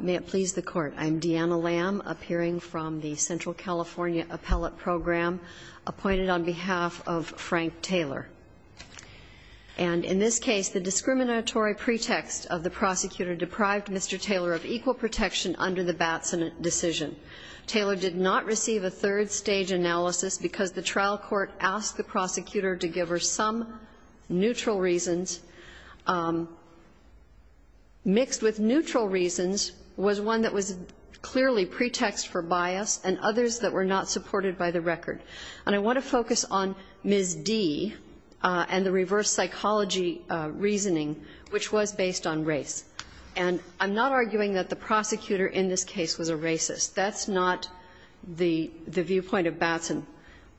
May it please the Court, I'm Deanna Lamb, appearing from the Central California Appellate Program, appointed on behalf of Frank Taylor. And in this case, the discriminatory pretext of the prosecutor deprived Mr. Taylor of equal protection under the Batson decision. Taylor did not receive a third-stage analysis because the trial court asked the prosecutor to give her some neutral reasons, mixed with neutral reasons, was one that was clearly pretext for bias and others that were not supported by the record. And I want to focus on Ms. D. and the reverse psychology reasoning, which was based on race. And I'm not arguing that the prosecutor in this case was a racist. That's not the viewpoint of Batson.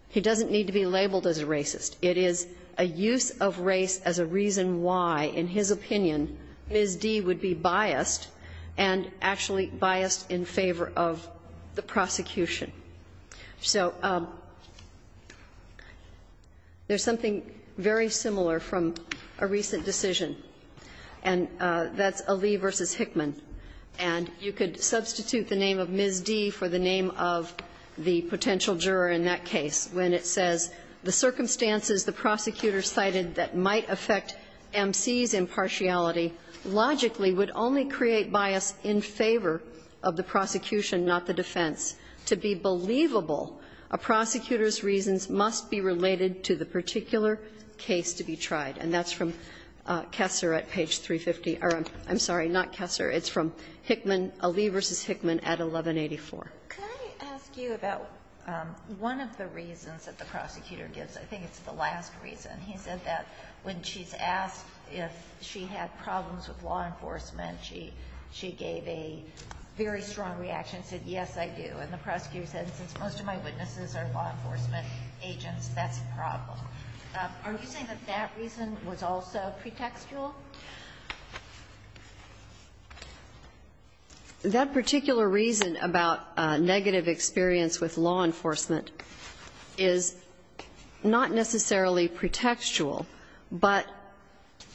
He doesn't need to be labeled as a racist. It is a use of race as a reason why, in his opinion, Ms. D. would be biased and actually biased in favor of the prosecution. So there's something very similar from a recent decision, and that's Ali v. Hickman. And you could substitute the name of Ms. D. for the name of the potential juror in that case when it says, The circumstances the prosecutor cited that might affect M.C.'s impartiality logically would only create bias in favor of the prosecution, not the defense. To be believable, a prosecutor's reasons must be related to the particular case to be tried. And that's from Kessler at page 350. Or I'm sorry, not Kessler. It's from Hickman, Ali v. Hickman, at 1184. Ginsburg-McCarran, Jr.: Can I ask you about one of the reasons that the prosecutor gives? I think it's the last reason. He said that when she's asked if she had problems with law enforcement, she gave a very strong reaction and said, yes, I do. And the prosecutor said, since most of my witnesses are law enforcement agents, that's a problem. Are you saying that that reason was also pretextual? That particular reason about negative experience with law enforcement is not necessarily pretextual, but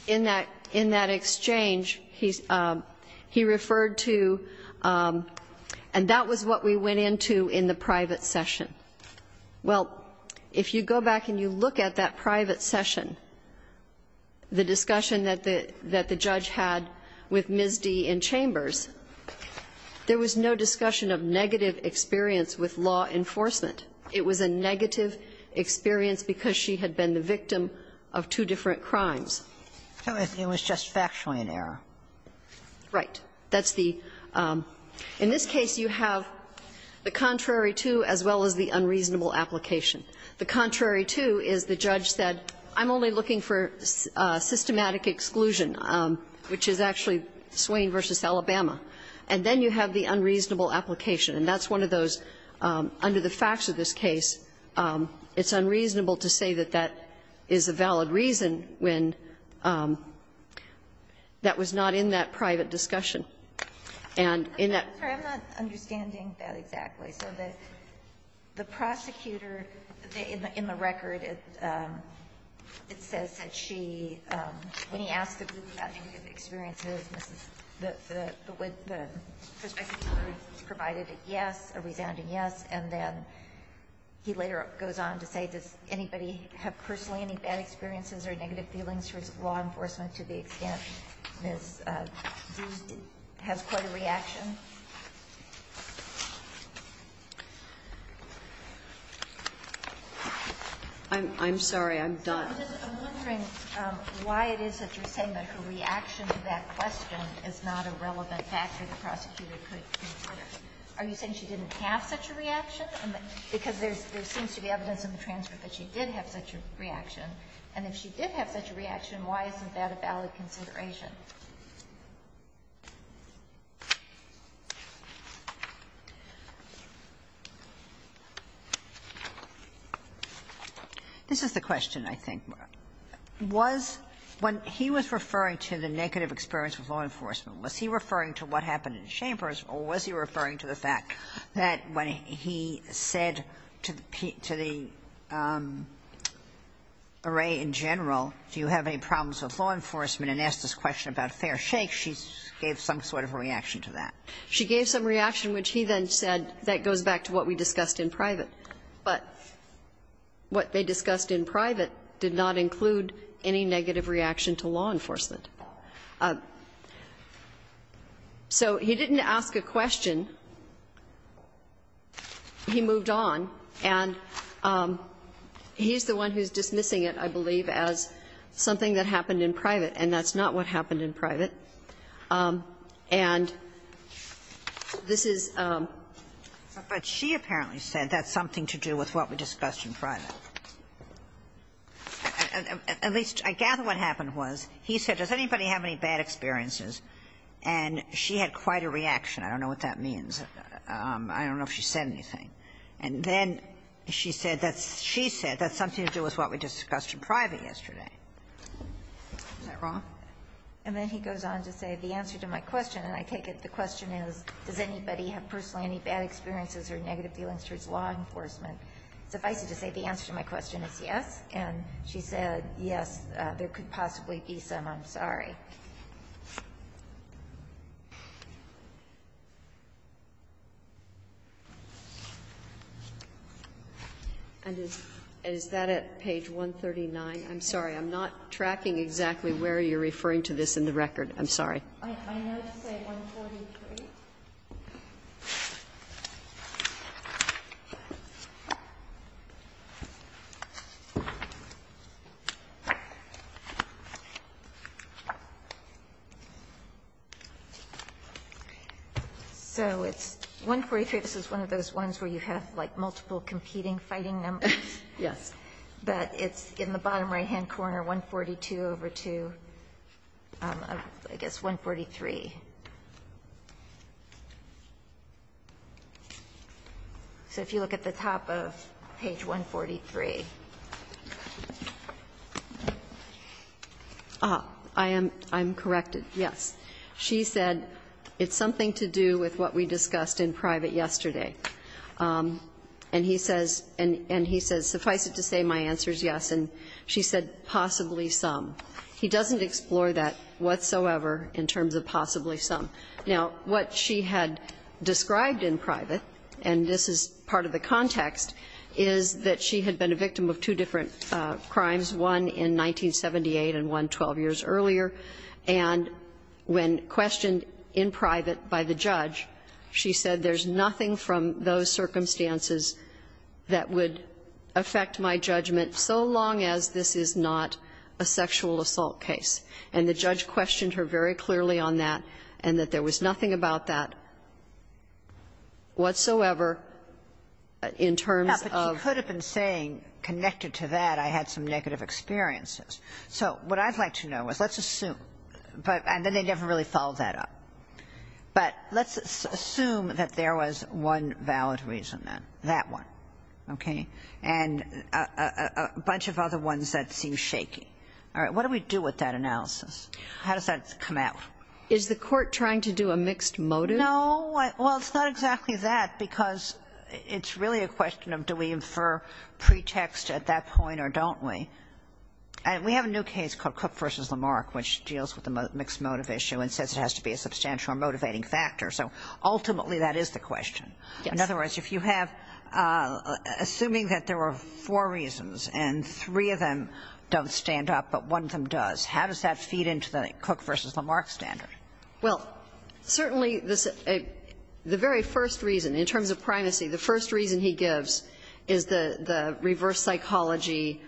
in that exchange, he referred to, and that was what we went into in the private session. Well, if you go back and you look at that private session, the discussion that the judge had with Ms. D. in Chambers, there was no discussion of negative experience with law enforcement. It was a negative experience because she had been the victim of two different crimes. It was just factually an error. Right. That's the – in this case, you have the contrary to as well as the unreasonable application. The contrary to is the judge said, I'm only looking for systematic exclusion, which is actually Swain v. Alabama. And then you have the unreasonable application. And that's one of those, under the facts of this case, it's unreasonable to say that that is a valid reason when that was not in that private discussion. And in that – So the prosecutor, in the record, it says that she, when he asked the group about negative experiences, Mrs. – the prospective jury provided a yes, a resounding yes, and then he later goes on to say, does anybody have personally any bad experiences or negative feelings towards law enforcement to the extent Ms. D. has quite a reaction? I'm sorry. I'm done. I'm just wondering why it is that you're saying that her reaction to that question is not a relevant factor the prosecutor could consider. Are you saying she didn't have such a reaction? Because there seems to be evidence in the transcript that she did have such a reaction. And if she did have such a reaction, why isn't that a valid consideration? This is the question, I think. Was – when he was referring to the negative experience with law enforcement, was he referring to what happened in Chambers, or was he referring to the fact that when he said to the – to the array in general, do you have any problems with law enforcement, and asked this question about fair shake, she gave some sort of a reaction to that? She gave some reaction which he then said that goes back to what we discussed in private, but what they discussed in private did not include any negative reaction to law enforcement. So he didn't ask a question. He moved on, and he's the one who's dismissing it, I believe, as something that we discussed in private, and that's not what happened in private. And this is the question. But she apparently said that's something to do with what we discussed in private. At least, I gather what happened was he said, does anybody have any bad experiences? And she had quite a reaction. I don't know what that means. I don't know if she said anything. And then she said that's – she said that's something to do with what we discussed in private yesterday. Is that wrong? And then he goes on to say the answer to my question, and I take it the question is, does anybody have personally any bad experiences or negative feelings towards law enforcement? Suffice it to say the answer to my question is yes, and she said yes, there could possibly be some. I'm sorry. Okay. And is that at page 139? I'm sorry. I'm not tracking exactly where you're referring to this in the record. I'm sorry. I note to say 143. So it's 143. This is one of those ones where you have, like, multiple competing fighting numbers. Yes. But it's in the bottom right-hand corner, 142 over 2. I guess 143. So if you look at the top of page 143. I am – I'm corrected, yes. She said it's something to do with what we discussed in private yesterday. And he says – and he says suffice it to say my answer is yes, and she said possibly some. He doesn't explore that whatsoever in terms of possibly some. Now, what she had described in private, and this is part of the context, is that she had been a victim of two different crimes, one in 1978 and one 12 years earlier. And when questioned in private by the judge, she said there's nothing from those circumstances that would affect my judgment so long as this is not a sexual assault case. And the judge questioned her very clearly on that, and that there was nothing about that whatsoever in terms of – I'm saying connected to that, I had some negative experiences. So what I'd like to know is let's assume – and then they never really followed that up. But let's assume that there was one valid reason then, that one, okay? And a bunch of other ones that seem shaky. All right, what do we do with that analysis? How does that come out? Is the court trying to do a mixed motive? No. Well, it's not exactly that, because it's really a question of do we infer pretext at that point or don't we? We have a new case called Cook v. Lamarck, which deals with the mixed motive issue and says it has to be a substantial motivating factor. So ultimately that is the question. In other words, if you have – assuming that there were four reasons and three of them don't stand up, but one of them does, how does that feed into the Cook v. Lamarck standard? Well, certainly the very first reason, in terms of primacy, the first reason he gives is the reverse psychology.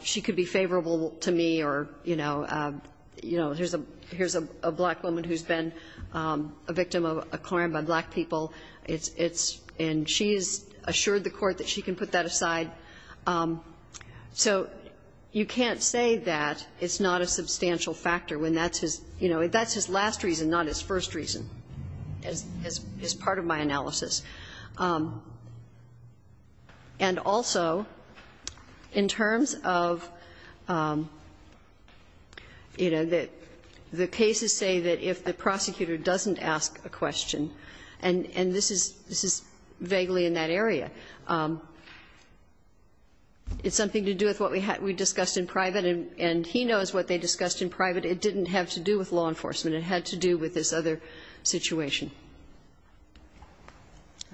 She could be favorable to me or, you know, here's a black woman who's been a victim of a crime by black people. It's – and she's assured the court that she can put that aside. So you can't say that it's not a substantial factor when that's his – you know, that's his last reason, not his first reason, as part of my analysis. And also, in terms of, you know, the cases say that if the prosecutor doesn't ask a question – and this is vaguely in that area – it's something to do with what we discussed in private, and he knows what they discussed in private. It didn't have to do with law enforcement. It had to do with this other situation.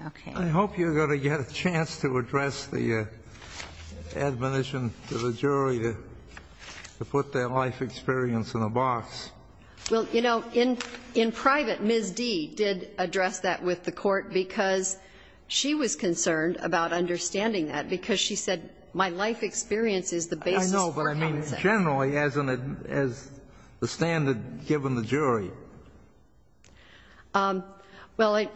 Okay. I hope you're going to get a chance to address the admonition to the jury to put their life experience in a box. Well, you know, in private, Ms. Dee did address that with the court because she was concerned about understanding that, because she said, my life experience is the basis for counseling. I know, but I mean generally, as the standard given the jury. Well,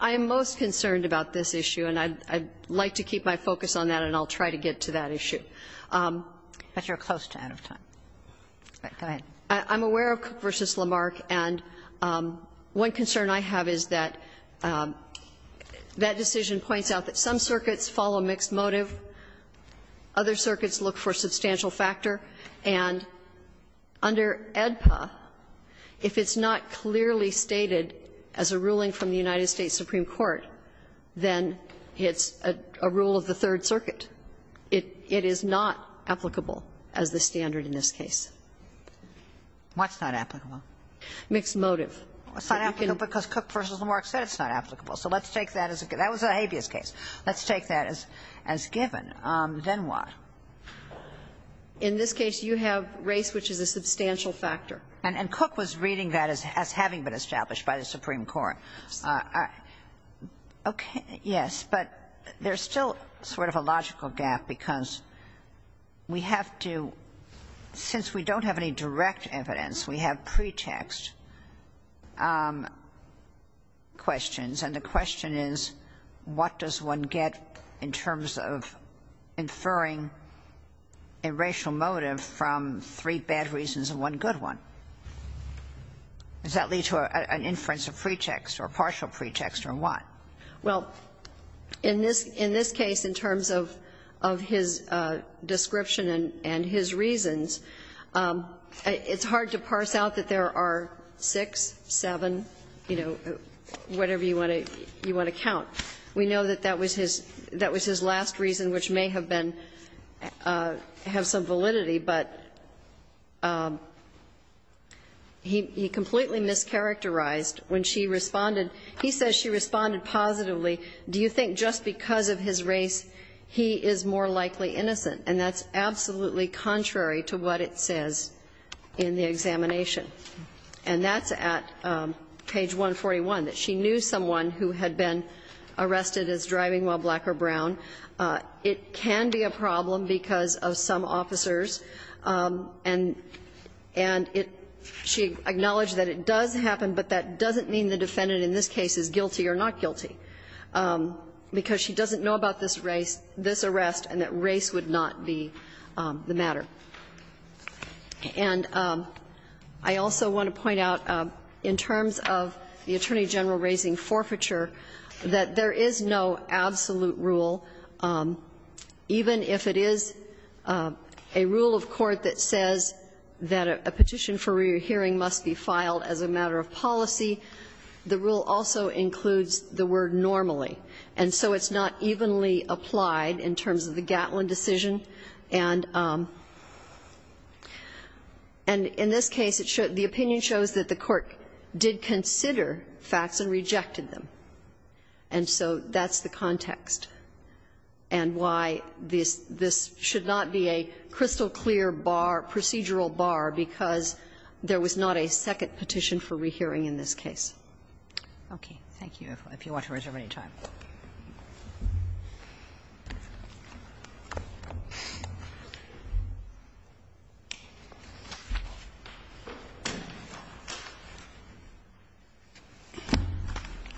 I'm most concerned about this issue, and I'd like to keep my focus on that, and I'll try to get to that issue. But you're close to out of time. Go ahead. I'm aware of Cook v. Lamarck, and one concern I have is that that decision points out that some circuits follow mixed motive, other circuits look for substantial factor, and under AEDPA, if it's not clearly stated as a ruling from the United States Supreme Court, then it's a rule of the Third Circuit. It is not applicable as the standard in this case. What's not applicable? Mixed motive. It's not applicable because Cook v. Lamarck said it's not applicable, so let's take that as a case. That was a habeas case. Let's take that as given. Then what? In this case, you have race, which is a substantial factor. And Cook was reading that as having been established by the Supreme Court. Yes, but there's still sort of a logical gap because we have to, since we don't have any direct evidence, we have pretext questions. And the question is, what does one get in terms of inferring a racial motive from three bad reasons and one good one? Does that lead to an inference of pretext or partial pretext or what? Well, in this case, in terms of his description and his reasons, it's hard to parse out that there are six, seven, you know, whatever you want to count. We know that that was his last reason, which may have been, have some validity, but he completely mischaracterized when she responded. He says she responded positively. Do you think just because of his race, he is more likely innocent? And that's absolutely contrary to what it says in the examination. And that's at page 141, that she knew someone who had been arrested as driving while black or brown. It can be a problem because of some officers. And she acknowledged that it does happen, but that doesn't mean the defendant in this case is guilty or not guilty, because she doesn't know about this arrest and that race would not be the matter. And I also want to point out, in terms of the Attorney General raising forfeiture, that there is no absolute rule, even if it is a rule of court that says that a petition for re-hearing must be filed as a matter of policy, the rule also includes the word normally. And so it's not evenly applied in terms of the Gatlin decision. And in this case, the opinion shows that the court did consider facts and rejected them. And so that's the context and why this should not be a crystal clear bar, procedural bar, because there was not a second petition for re-hearing in this case. Okay. Thank you. If you want to reserve any time.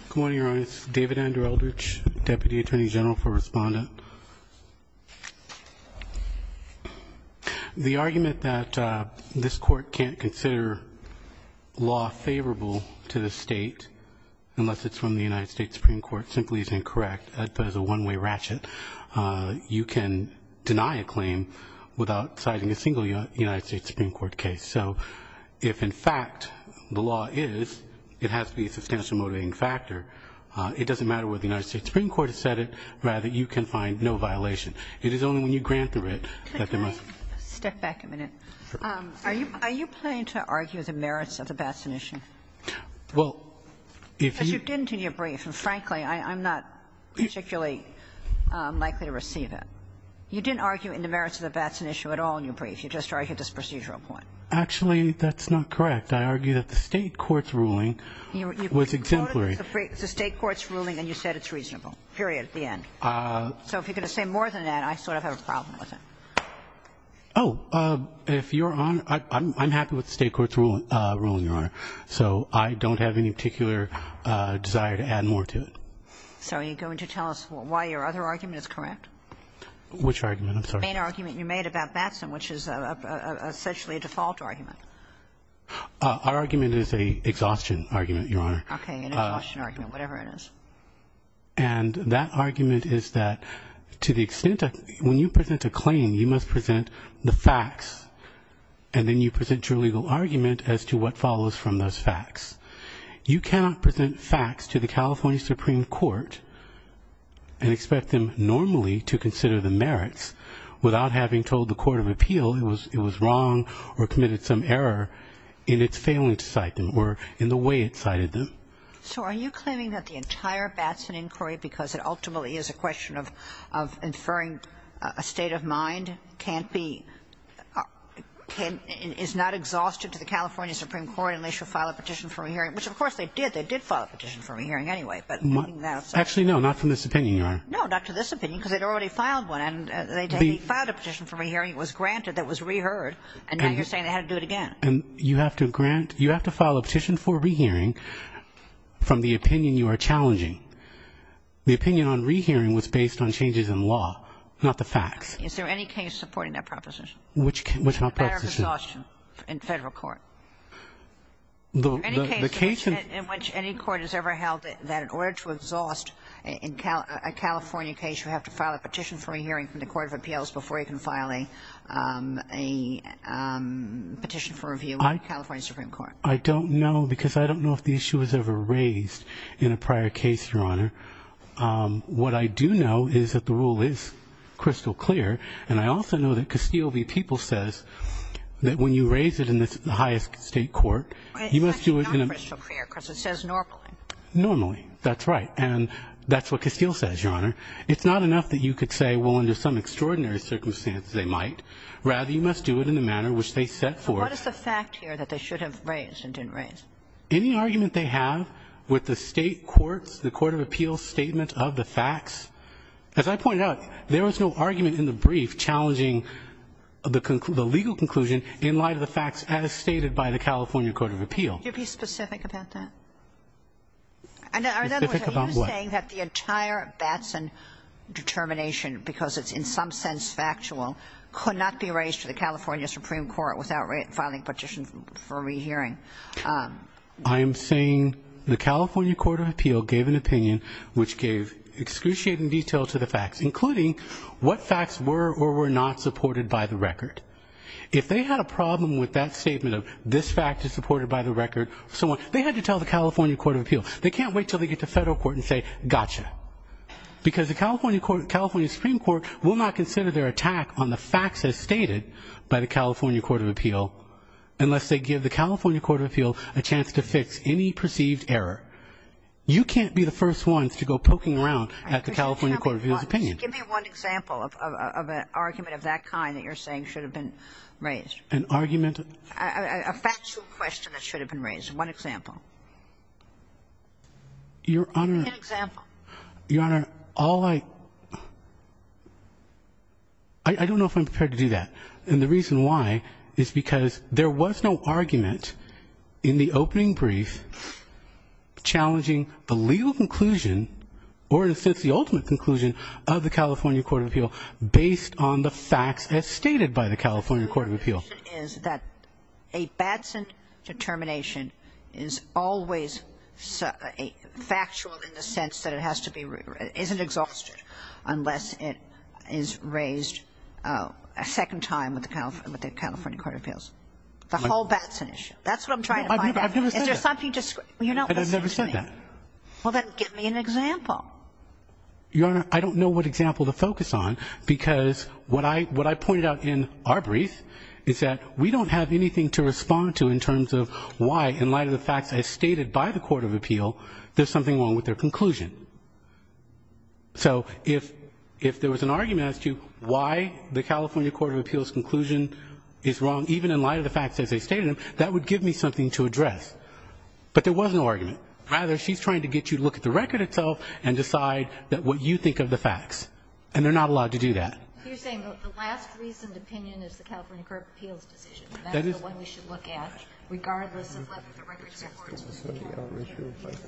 Good morning, Your Honor. David Andrew Eldridge, Deputy Attorney General for Respondent. The argument that this court can't consider law favorable to the state, unless it's from the United States Supreme Court, simply is incorrect. That is a one-way ratchet. You can deny a claim without citing a single United States Supreme Court case. So if, in fact, the law is, it has to be a substantial motivating factor. It doesn't matter where the United States Supreme Court has said it. Rather, you can find no violation. It is only when you grant the writ that there must be. Step back a minute. Are you planning to argue the merits of the Batson issue? Well, if you. Because you didn't in your brief. And, frankly, I'm not particularly likely to receive it. You didn't argue in the merits of the Batson issue at all in your brief. You just argued this procedural point. Actually, that's not correct. I argued that the state court's ruling was exemplary. You quoted the state court's ruling and you said it's reasonable, period, at the end. So if you're going to say more than that, I sort of have a problem with it. Oh, if Your Honor, I'm happy with the state court's ruling, Your Honor. So I don't have any particular desire to add more to it. So are you going to tell us why your other argument is correct? Which argument? I'm sorry. The main argument you made about Batson, which is essentially a default argument. Our argument is an exhaustion argument, Your Honor. Okay, an exhaustion argument, whatever it is. And that argument is that to the extent that when you present a claim, you must present the facts, and then you present your legal argument as to what follows from those facts. You cannot present facts to the California Supreme Court and expect them normally to consider the merits without having told the court of appeal it was wrong or committed some error in its failing to cite them or in the way it cited them. So are you claiming that the entire Batson inquiry, because it ultimately is a question of inferring a state of mind, is not exhausted to the California Supreme Court unless you file a petition for a re-hearing? Which, of course, they did. They did file a petition for a re-hearing anyway. Actually, no, not from this opinion, Your Honor. No, not to this opinion, because they'd already filed one. They filed a petition for a re-hearing. It was granted. It was re-heard, and now you're saying they had to do it again. You have to file a petition for a re-hearing from the opinion you are challenging. The opinion on re-hearing was based on changes in law, not the facts. Is there any case supporting that proposition? Which proposition? The matter of exhaustion in Federal court. The case in which any court has ever held that in order to exhaust a California case, you have to file a petition for a re-hearing from the court of appeals before you can file a petition for review with the California Supreme Court. I don't know, because I don't know if the issue was ever raised in a prior case, Your Honor. What I do know is that the rule is crystal clear, and I also know that Castile v. People says that when you raise it in the highest state court, you must do it in a... It's actually not crystal clear, because it says normally. Normally, that's right. And that's what Castile says, Your Honor. It's not enough that you could say, well, under some extraordinary circumstances they might. Rather, you must do it in the manner which they set forth. What is the fact here that they should have raised and didn't raise? Any argument they have with the state courts, the court of appeals statement of the facts, as I pointed out, there was no argument in the brief challenging the legal conclusion in light of the facts as stated by the California court of appeals. Could you be specific about that? Specific about what? Are you saying that the entire Batson determination because it's in some sense factual could not be raised to the California Supreme Court without filing a petition for rehearing? I am saying the California court of appeal gave an opinion which gave excruciating detail to the facts, including what facts were or were not supported by the record. If they had a problem with that statement of this fact is supported by the record, they had to tell the California court of appeals. They can't wait until they get to federal court and say, gotcha. Because the California Supreme Court will not consider their attack on the facts as stated by the California court of appeal unless they give the California court of appeal a chance to fix any perceived error. You can't be the first ones to go poking around at the California court of appeals opinion. Give me one example of an argument of that kind that you're saying should have been raised. An argument? A factual question that should have been raised. One example. Your Honor. An example. Your Honor, all I... I don't know if I'm prepared to do that. And the reason why is because there was no argument in the opening brief challenging the legal conclusion or in a sense the ultimate conclusion of the California court of appeal based on the facts as stated by the California court of appeal. ...is that a Batson determination is always factual in the sense that it isn't exhausted unless it is raised a second time with the California court of appeals. The whole Batson issue. That's what I'm trying to find out. I've never said that. You're not listening to me. I've never said that. Well, then give me an example. Your Honor, I don't know what example to focus on because what I pointed out in our brief is that we don't have anything to respond to in terms of why, in light of the facts as stated by the court of appeal, there's something wrong with their conclusion. So if there was an argument as to why the California court of appeals' conclusion is wrong, even in light of the facts as they stated them, that would give me something to address. But there was no argument. Rather, she's trying to get you to look at the record itself and decide what you think of the facts. You're saying the last reasoned opinion is the California court of appeals' decision. That is the one we should look at regardless of whether the record supports the California court of appeals'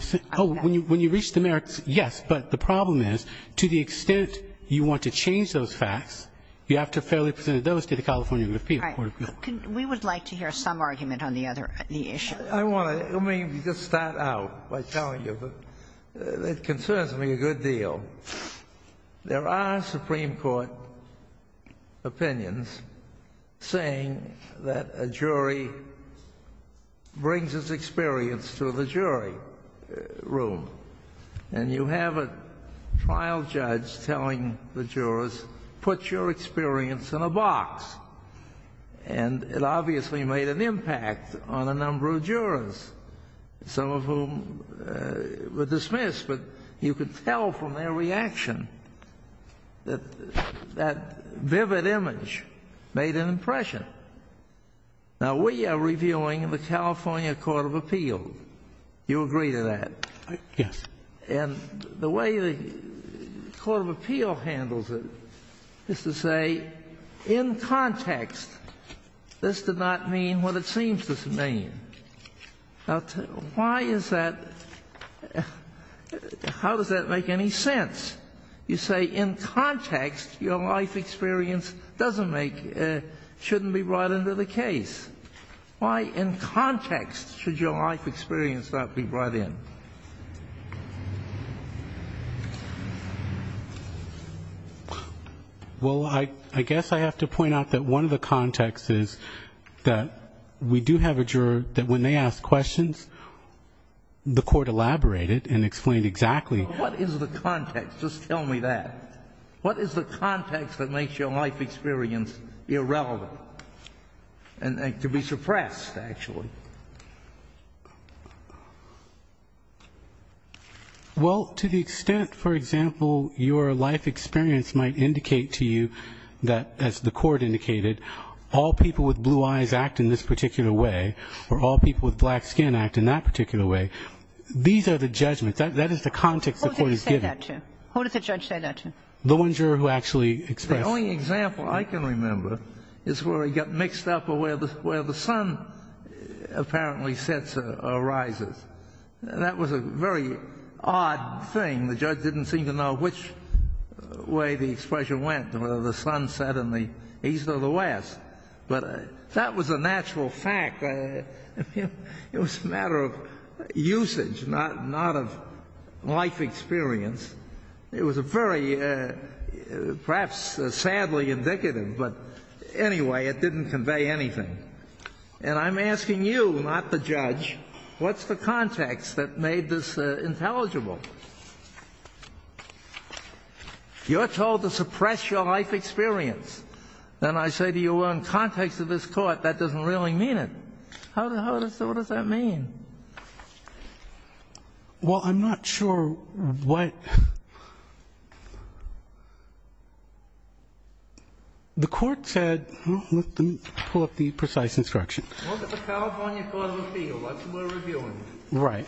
decision. Oh, when you reach the merits, yes. But the problem is, to the extent you want to change those facts, you have to fairly present those to the California court of appeals. We would like to hear some argument on the other issue. I want to... Let me just start out by telling you that it concerns me a good deal. There are Supreme Court opinions saying that a jury brings its experience to the jury room. And you have a trial judge telling the jurors put your experience in a box. And it obviously made an impact on a number of jurors, some of whom were dismissed, but you could tell from their reaction that that vivid image made an impression. Now, we are reviewing the California court of appeals. You agree to that? Yes. And the way the court of appeals handles it is to say, in context, this did not mean what it seems to mean. Now, why is that... How does that make any sense? You say, in context, your life experience doesn't make... shouldn't be brought into the case. Why, in context, should your life experience not be brought in? Well, I guess I have to point out that one of the contexts is that we do have a juror that when they ask questions, the court elaborated and explained exactly... What is the context? Just tell me that. What is the context that makes your life experience irrelevant? And to be suppressed, actually. Well, to the extent, for example, your life experience might indicate to you that, as the court indicated, all people with blue eyes act in this particular way or all people with black skin act in that particular way, these are the judgments. That is the context the court is giving. Who does the judge say that to? The one juror who actually expressed... The only example I can remember is where he got mixed up or where the sun apparently sets or rises. That was a very odd thing. The judge didn't seem to know which way the expression went, whether the sun set in the east or the west. But that was a natural fact. It was a matter of usage, not of life experience. It was a very... Perhaps sadly indicative, but anyway, it didn't convey anything. And I'm asking you, not the judge, what's the context that made this intelligible? You're told to suppress your life experience. Then I say to you, in context of this court, that doesn't really mean it. How does... What does that mean? Well, I'm not sure what... The court said... Let me pull up the precise instruction. Look at the California Court of Appeal. That's what we're reviewing. Right.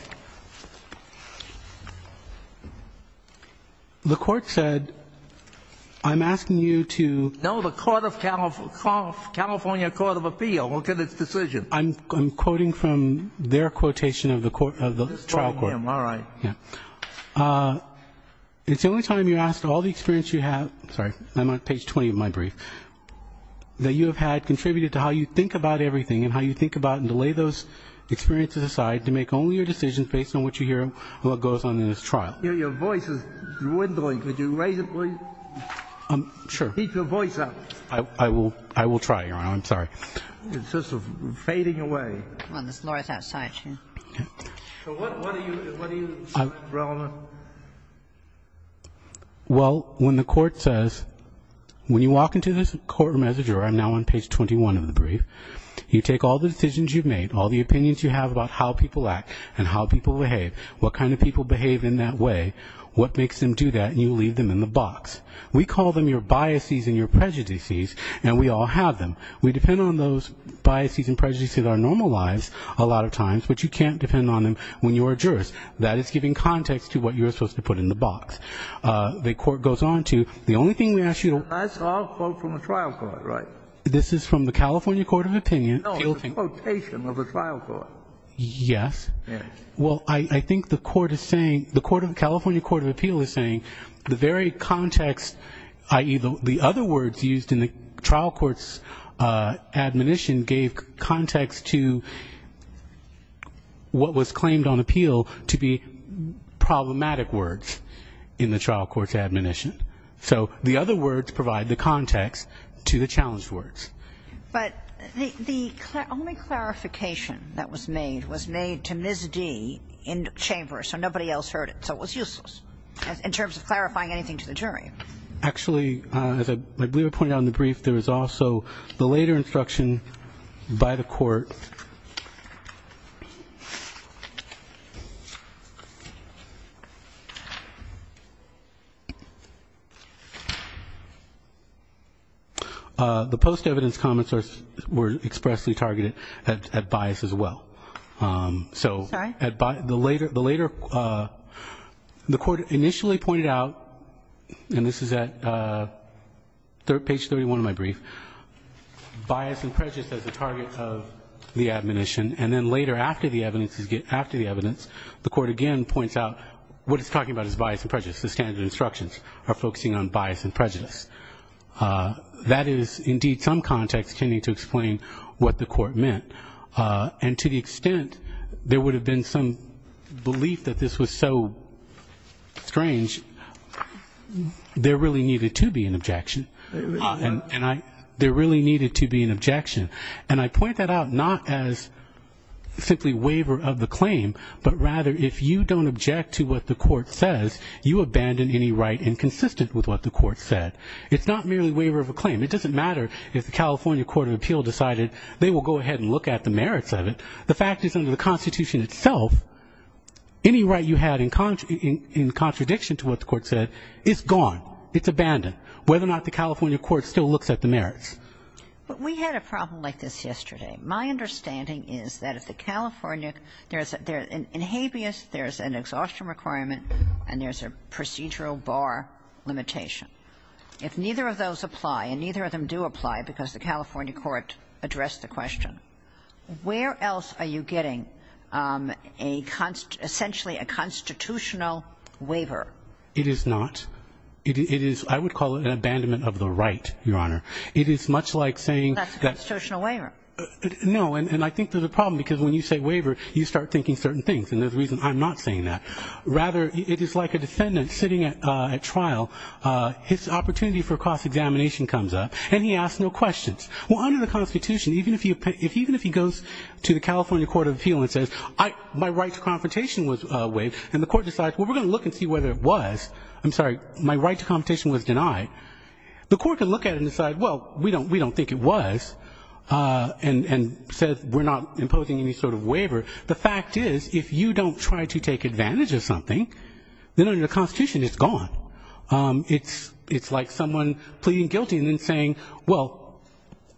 The court said, I'm asking you to... No, the California Court of Appeal. Look at its decision. I'm quoting from their court. I'm quoting from the trial court. All right. It's the only time you're asked all the experience you have... Sorry. I'm on page 20 of my brief. That you have had contributed to how you think about everything and how you think about and lay those experiences aside to make only your decisions based on what you hear and what goes on in this trial. Your voice is dwindling. Could you raise it, please? Sure. Keep your voice up. I will try, Your Honor. I'm sorry. It's just fading away. The floor is outside. What do you see as relevant? Well, when the court says, when you walk into this court or message, or I'm now on page 21 of the brief, you take all the decisions you've made, all the opinions you have about how people act and how people behave, what kind of people behave in that way, what makes them do that, and you leave them in the box. We call them your biases and your prejudices, and we all have them. We depend on those biases and prejudices that are normalized a lot of times, but you can't depend on them when you're a jurist. That is giving context to what you're supposed to put in the box. The court goes on to, the only thing we ask you to... That's all quote from the trial court, right? This is from the California Court of Opinion. No, it's a quotation of the trial court. Yes. Yes. Well, I think the court is saying, the California Court of Appeal is saying the very context, i.e. the other words used in the trial court's admonition gave context to what was claimed on appeal to be problematic words in the trial court's admonition. So, the other words provide the context to the challenged words. But, the only clarification that was made was made to Ms. D in the chamber, so nobody else heard it, so it was useless in terms of clarifying anything to the jury. Actually, as I believe I pointed out in the brief, there was also the later instruction by the court that the post-evidence comments were expressly targeted at bias as well. Sorry? So, the later the court bias and prejudice as a target of bias and prejudice as a target of bias and prejudice as a target of bias and prejudice as a target of the admonition and then later after the evidence the court again points out what it's talking about is bias and prejudice the standard instructions are focusing on bias and prejudice. That is indeed some context to explain what the court meant. And, to the extent there would have been some belief that this was so strange there really needed to be an objection and I there really needed to be an objection and I point that out not as simply waiver of the claim but rather if you don't object to what the court says you abandon any right inconsistent with what the court said. It's not merely waiver of a claim. It doesn't matter if the California Court of Appeal decided they will go ahead and look at the merits of it. The fact is under the Constitution itself any right you had in contradiction to what the court said is gone. abandoned. Whether or not the California Court still looks at the merits. We had a problem like this yesterday. My understanding is that if the Constitution right is not a constitutional waiver, where else are you getting a constitutional waiver? It is not. I would call it an abandonment of the right. It is like a defendant sitting at trial and his opportunity for cross examination comes up and he asks no questions. Under the Constitution, even if he goes to the California Court of Appeal and says my right to confrontation was denied, the court can look at it and say we do not think it was and says we are not imposing any sort of waiver. The fact is if you don't try to take advantage of something, it is gone. It is like someone pleading guilty and saying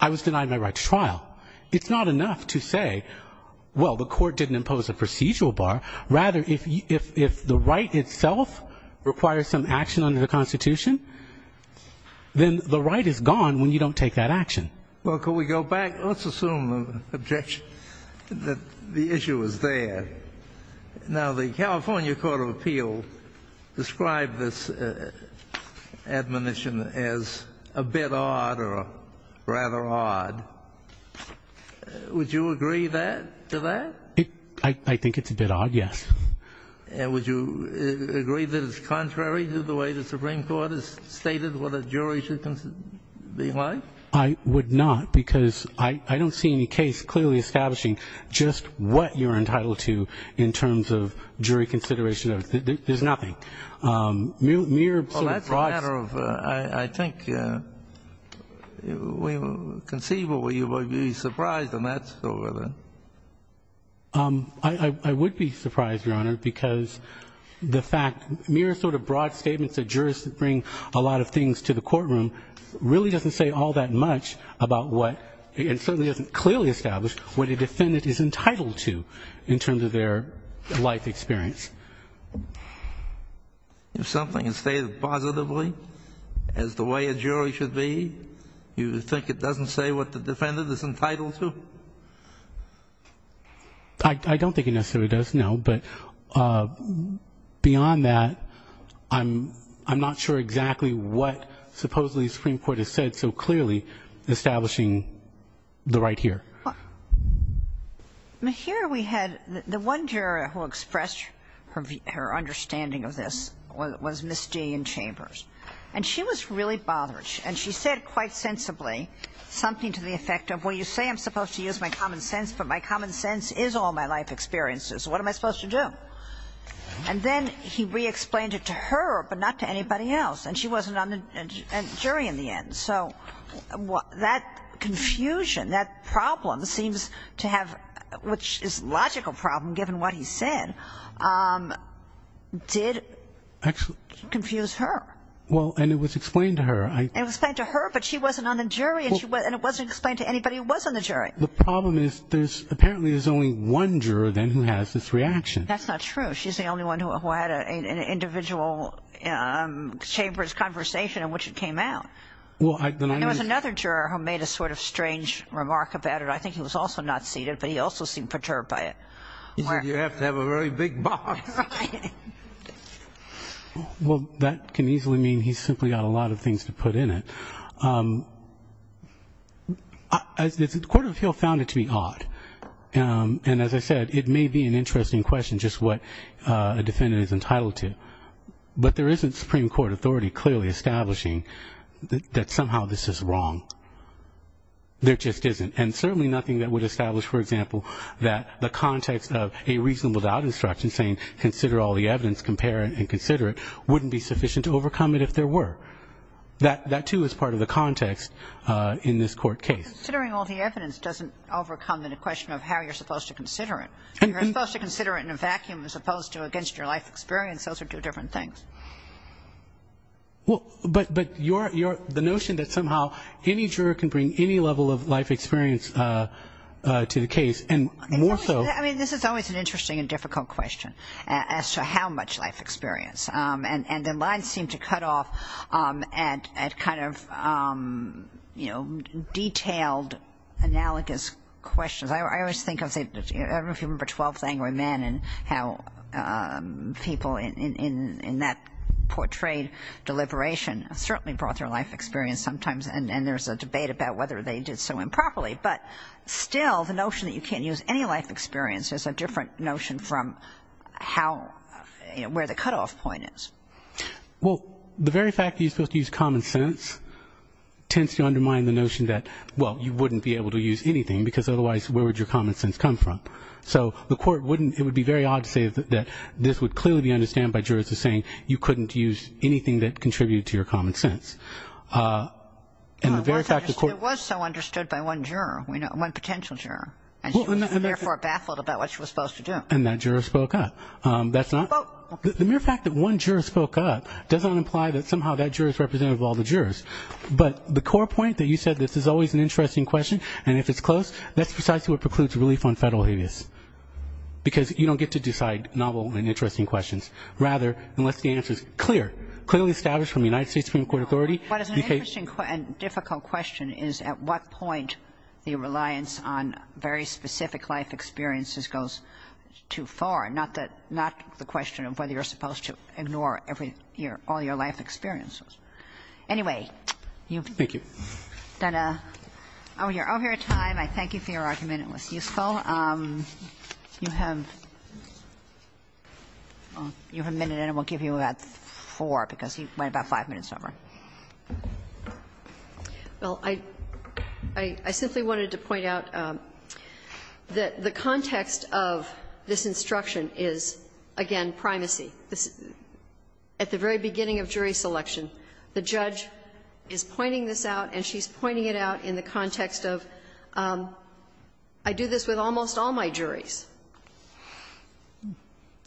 I was denied my right to trial. It is not enough to say the court didn't impose a procedural bar. If the right itself requires some action under the Constitution, then the right is gone when you don't take that action. Let's assume the issue is there. The California Court of Appeal described this admonition as a bit odd or rather odd. Would you agree that to that? I think it is a bit odd, yes. Would you agree that it is contrary to the way the Supreme Court has stated what a jury should be like? I would not because I don't see any case clearly establishing just what you are entitled to in terms of jury experience. If something is stated positively as the way a is? No. It doesn't say what the difference is. It doesn't say what the difference is. It doesn't say the difference is. I don't think it necessarily does. Beyond that, I'm not sure exactly what supposedly the Supreme Court has said so clearly establishing the right here. The one juror who expressed her understanding of this was Ms. G. in Chambers. She said quite sensibly something to the effect of you say I'm supposed to use my common sense but my common sense is all my common sense is not ominous. It be severe and painful for the inmate. As the Supreme Court found it to be odd, and as I said, it may be interesting as to what a reasonable doubt instruction says wouldn't be sufficient to overcome it if there were. That too is part of the context in this court case. Considering all the evidence doesn't overcome the question of how you're supposed to consider it. You're supposed to consider it in a vacuum as opposed to against your life experience. Those are two different things. But that somehow any juror can bring any level of life experience to the case, and more so This is always an interesting and difficult question as to how much life experience. And the lines seem to cut off at kind of detailed analogous questions. I always think of 12 Angry Men and how people in that portrayed deliberation certainly brought their life experience sometimes, and there's a debate about whether they did so improperly. But still, the notion that you can't use any life experience is a different notion from where the cutoff point is. Well, the very fact that you're supposed to use common sense tends to undermine the notion that you wouldn't be able to use anything because otherwise where would your common sense be? It was so understood by one potential juror, and she was therefore baffled about what she was supposed to do. And that juror spoke up. The mere fact that one juror spoke up doesn't imply that somehow that juror is representative of all the jurors. But the core point that you said this is always an interesting question, and if it's close, that's precisely what precludes relief on federal habeas. Because you don't get to decide novel and interesting questions. Rather, unless the answer is clear, clearly established from the United States Supreme Court authority... What is an interesting and difficult question is at what point the reliance on very specific life experiences goes too far, not the question of whether you're supposed to ignore all your life experiences. Anyway, you've done a Oh, you're over your time. I thank you for your argument. It was useful. You have a minute, and we'll give you about four because you went about five minutes over. Well, I simply wanted to point out that the context of this instruction is, again, primacy. At the very beginning of jury selection, the judge is pointing this out, and she's pointing it out in the context of, I do this with almost all my juries.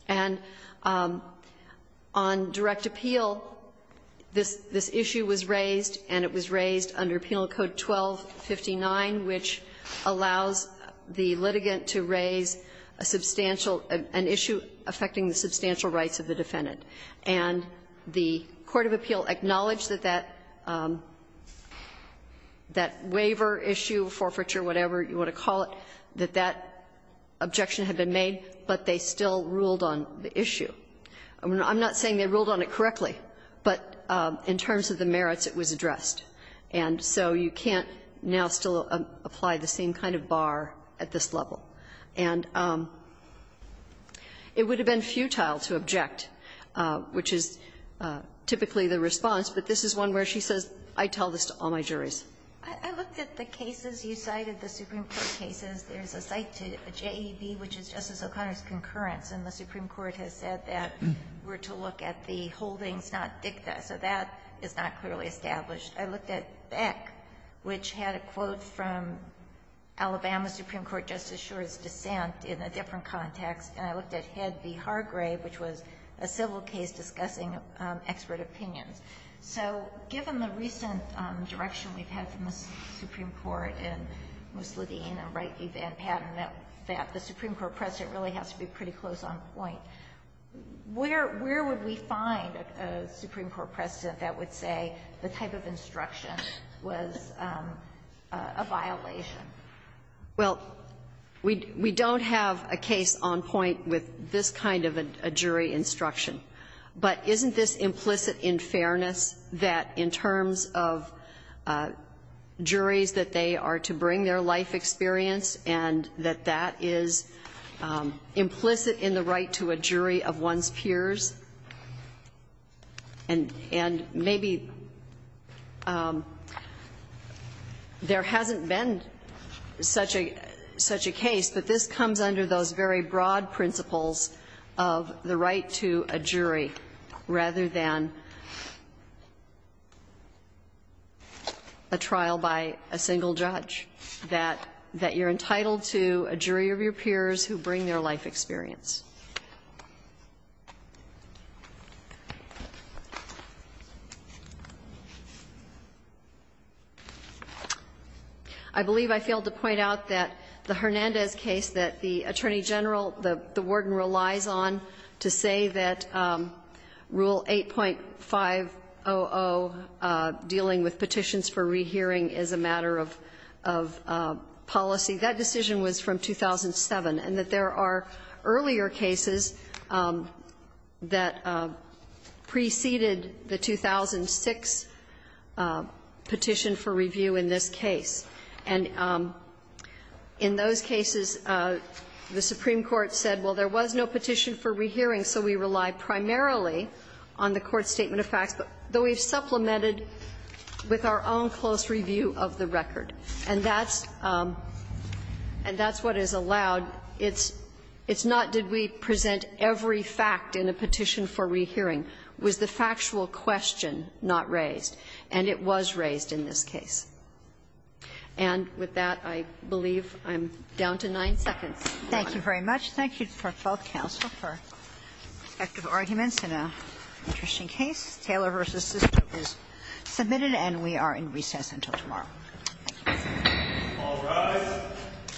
And on direct appeal, this issue was raised, and it was raised under penal code 1259, which allows the litigant to raise an issue affecting the substantial rights of the defendant. And the court of appeal acknowledged that that waiver issue, forfeiture, whatever you want to call it, that that objection had been made, but they still ruled on the issue. I'm not saying they ruled on it correctly, but in terms of the merits it was addressed. And so you can't now still apply the same kind of bar at this level. And it would have been futile to object, which is typically the response, but this is one where she says, I tell this to all my juries. I looked at the cases you cited, the Supreme Court cases. There's a site to JEB, which is Justice O'Connor's concurrence, and the Supreme Court has said that we're to look at the holdings, not dicta. So that is not clearly established. I looked at Beck, which had a quote from Alabama Supreme Court Justice Schor's dissent in a different context, and I looked at Head v. Hargrave, which was a civil case discussing expert opinions. So given the recent direction we've had from the Supreme Court and Ms. Ledeen and Wright v. Van Patten, that the Supreme Court precedent really has to be pretty close on point, where would we find a Supreme Court precedent that would say the type of instruction was a violation? Well, we don't have a precedent that would the Supreme Court precedent would be a violation of the right to a jury of one's peers. And maybe there hasn't been such a case, but this comes under those very broad principles of the right to a jury rather than a trial by a single judge, that you're entitled to a jury of your peers who bring their life experience. I believe I failed to point out that the Hernandez case that the Attorney General, the Supreme Court case, that the Warden relies on to say that Rule 8.500 dealing with petitions for rehearing is a matter of policy, that decision was from 2007. And that there are earlier cases that preceded the 2006 petition for review in this case. And in those cases, the Supreme Court said, well, there was no petition for rehearing, so we relied primarily on the court statement of facts, though we supplemented with our own close and thoughtful question not raised. And it was raised in this case. And with that, I believe I'm down to nine seconds. Thank you very much. Thank you to both counsel for respective arguments in an interesting case. Taylor v. Sisco is submitted, and we are in recess until tomorrow. Thank you.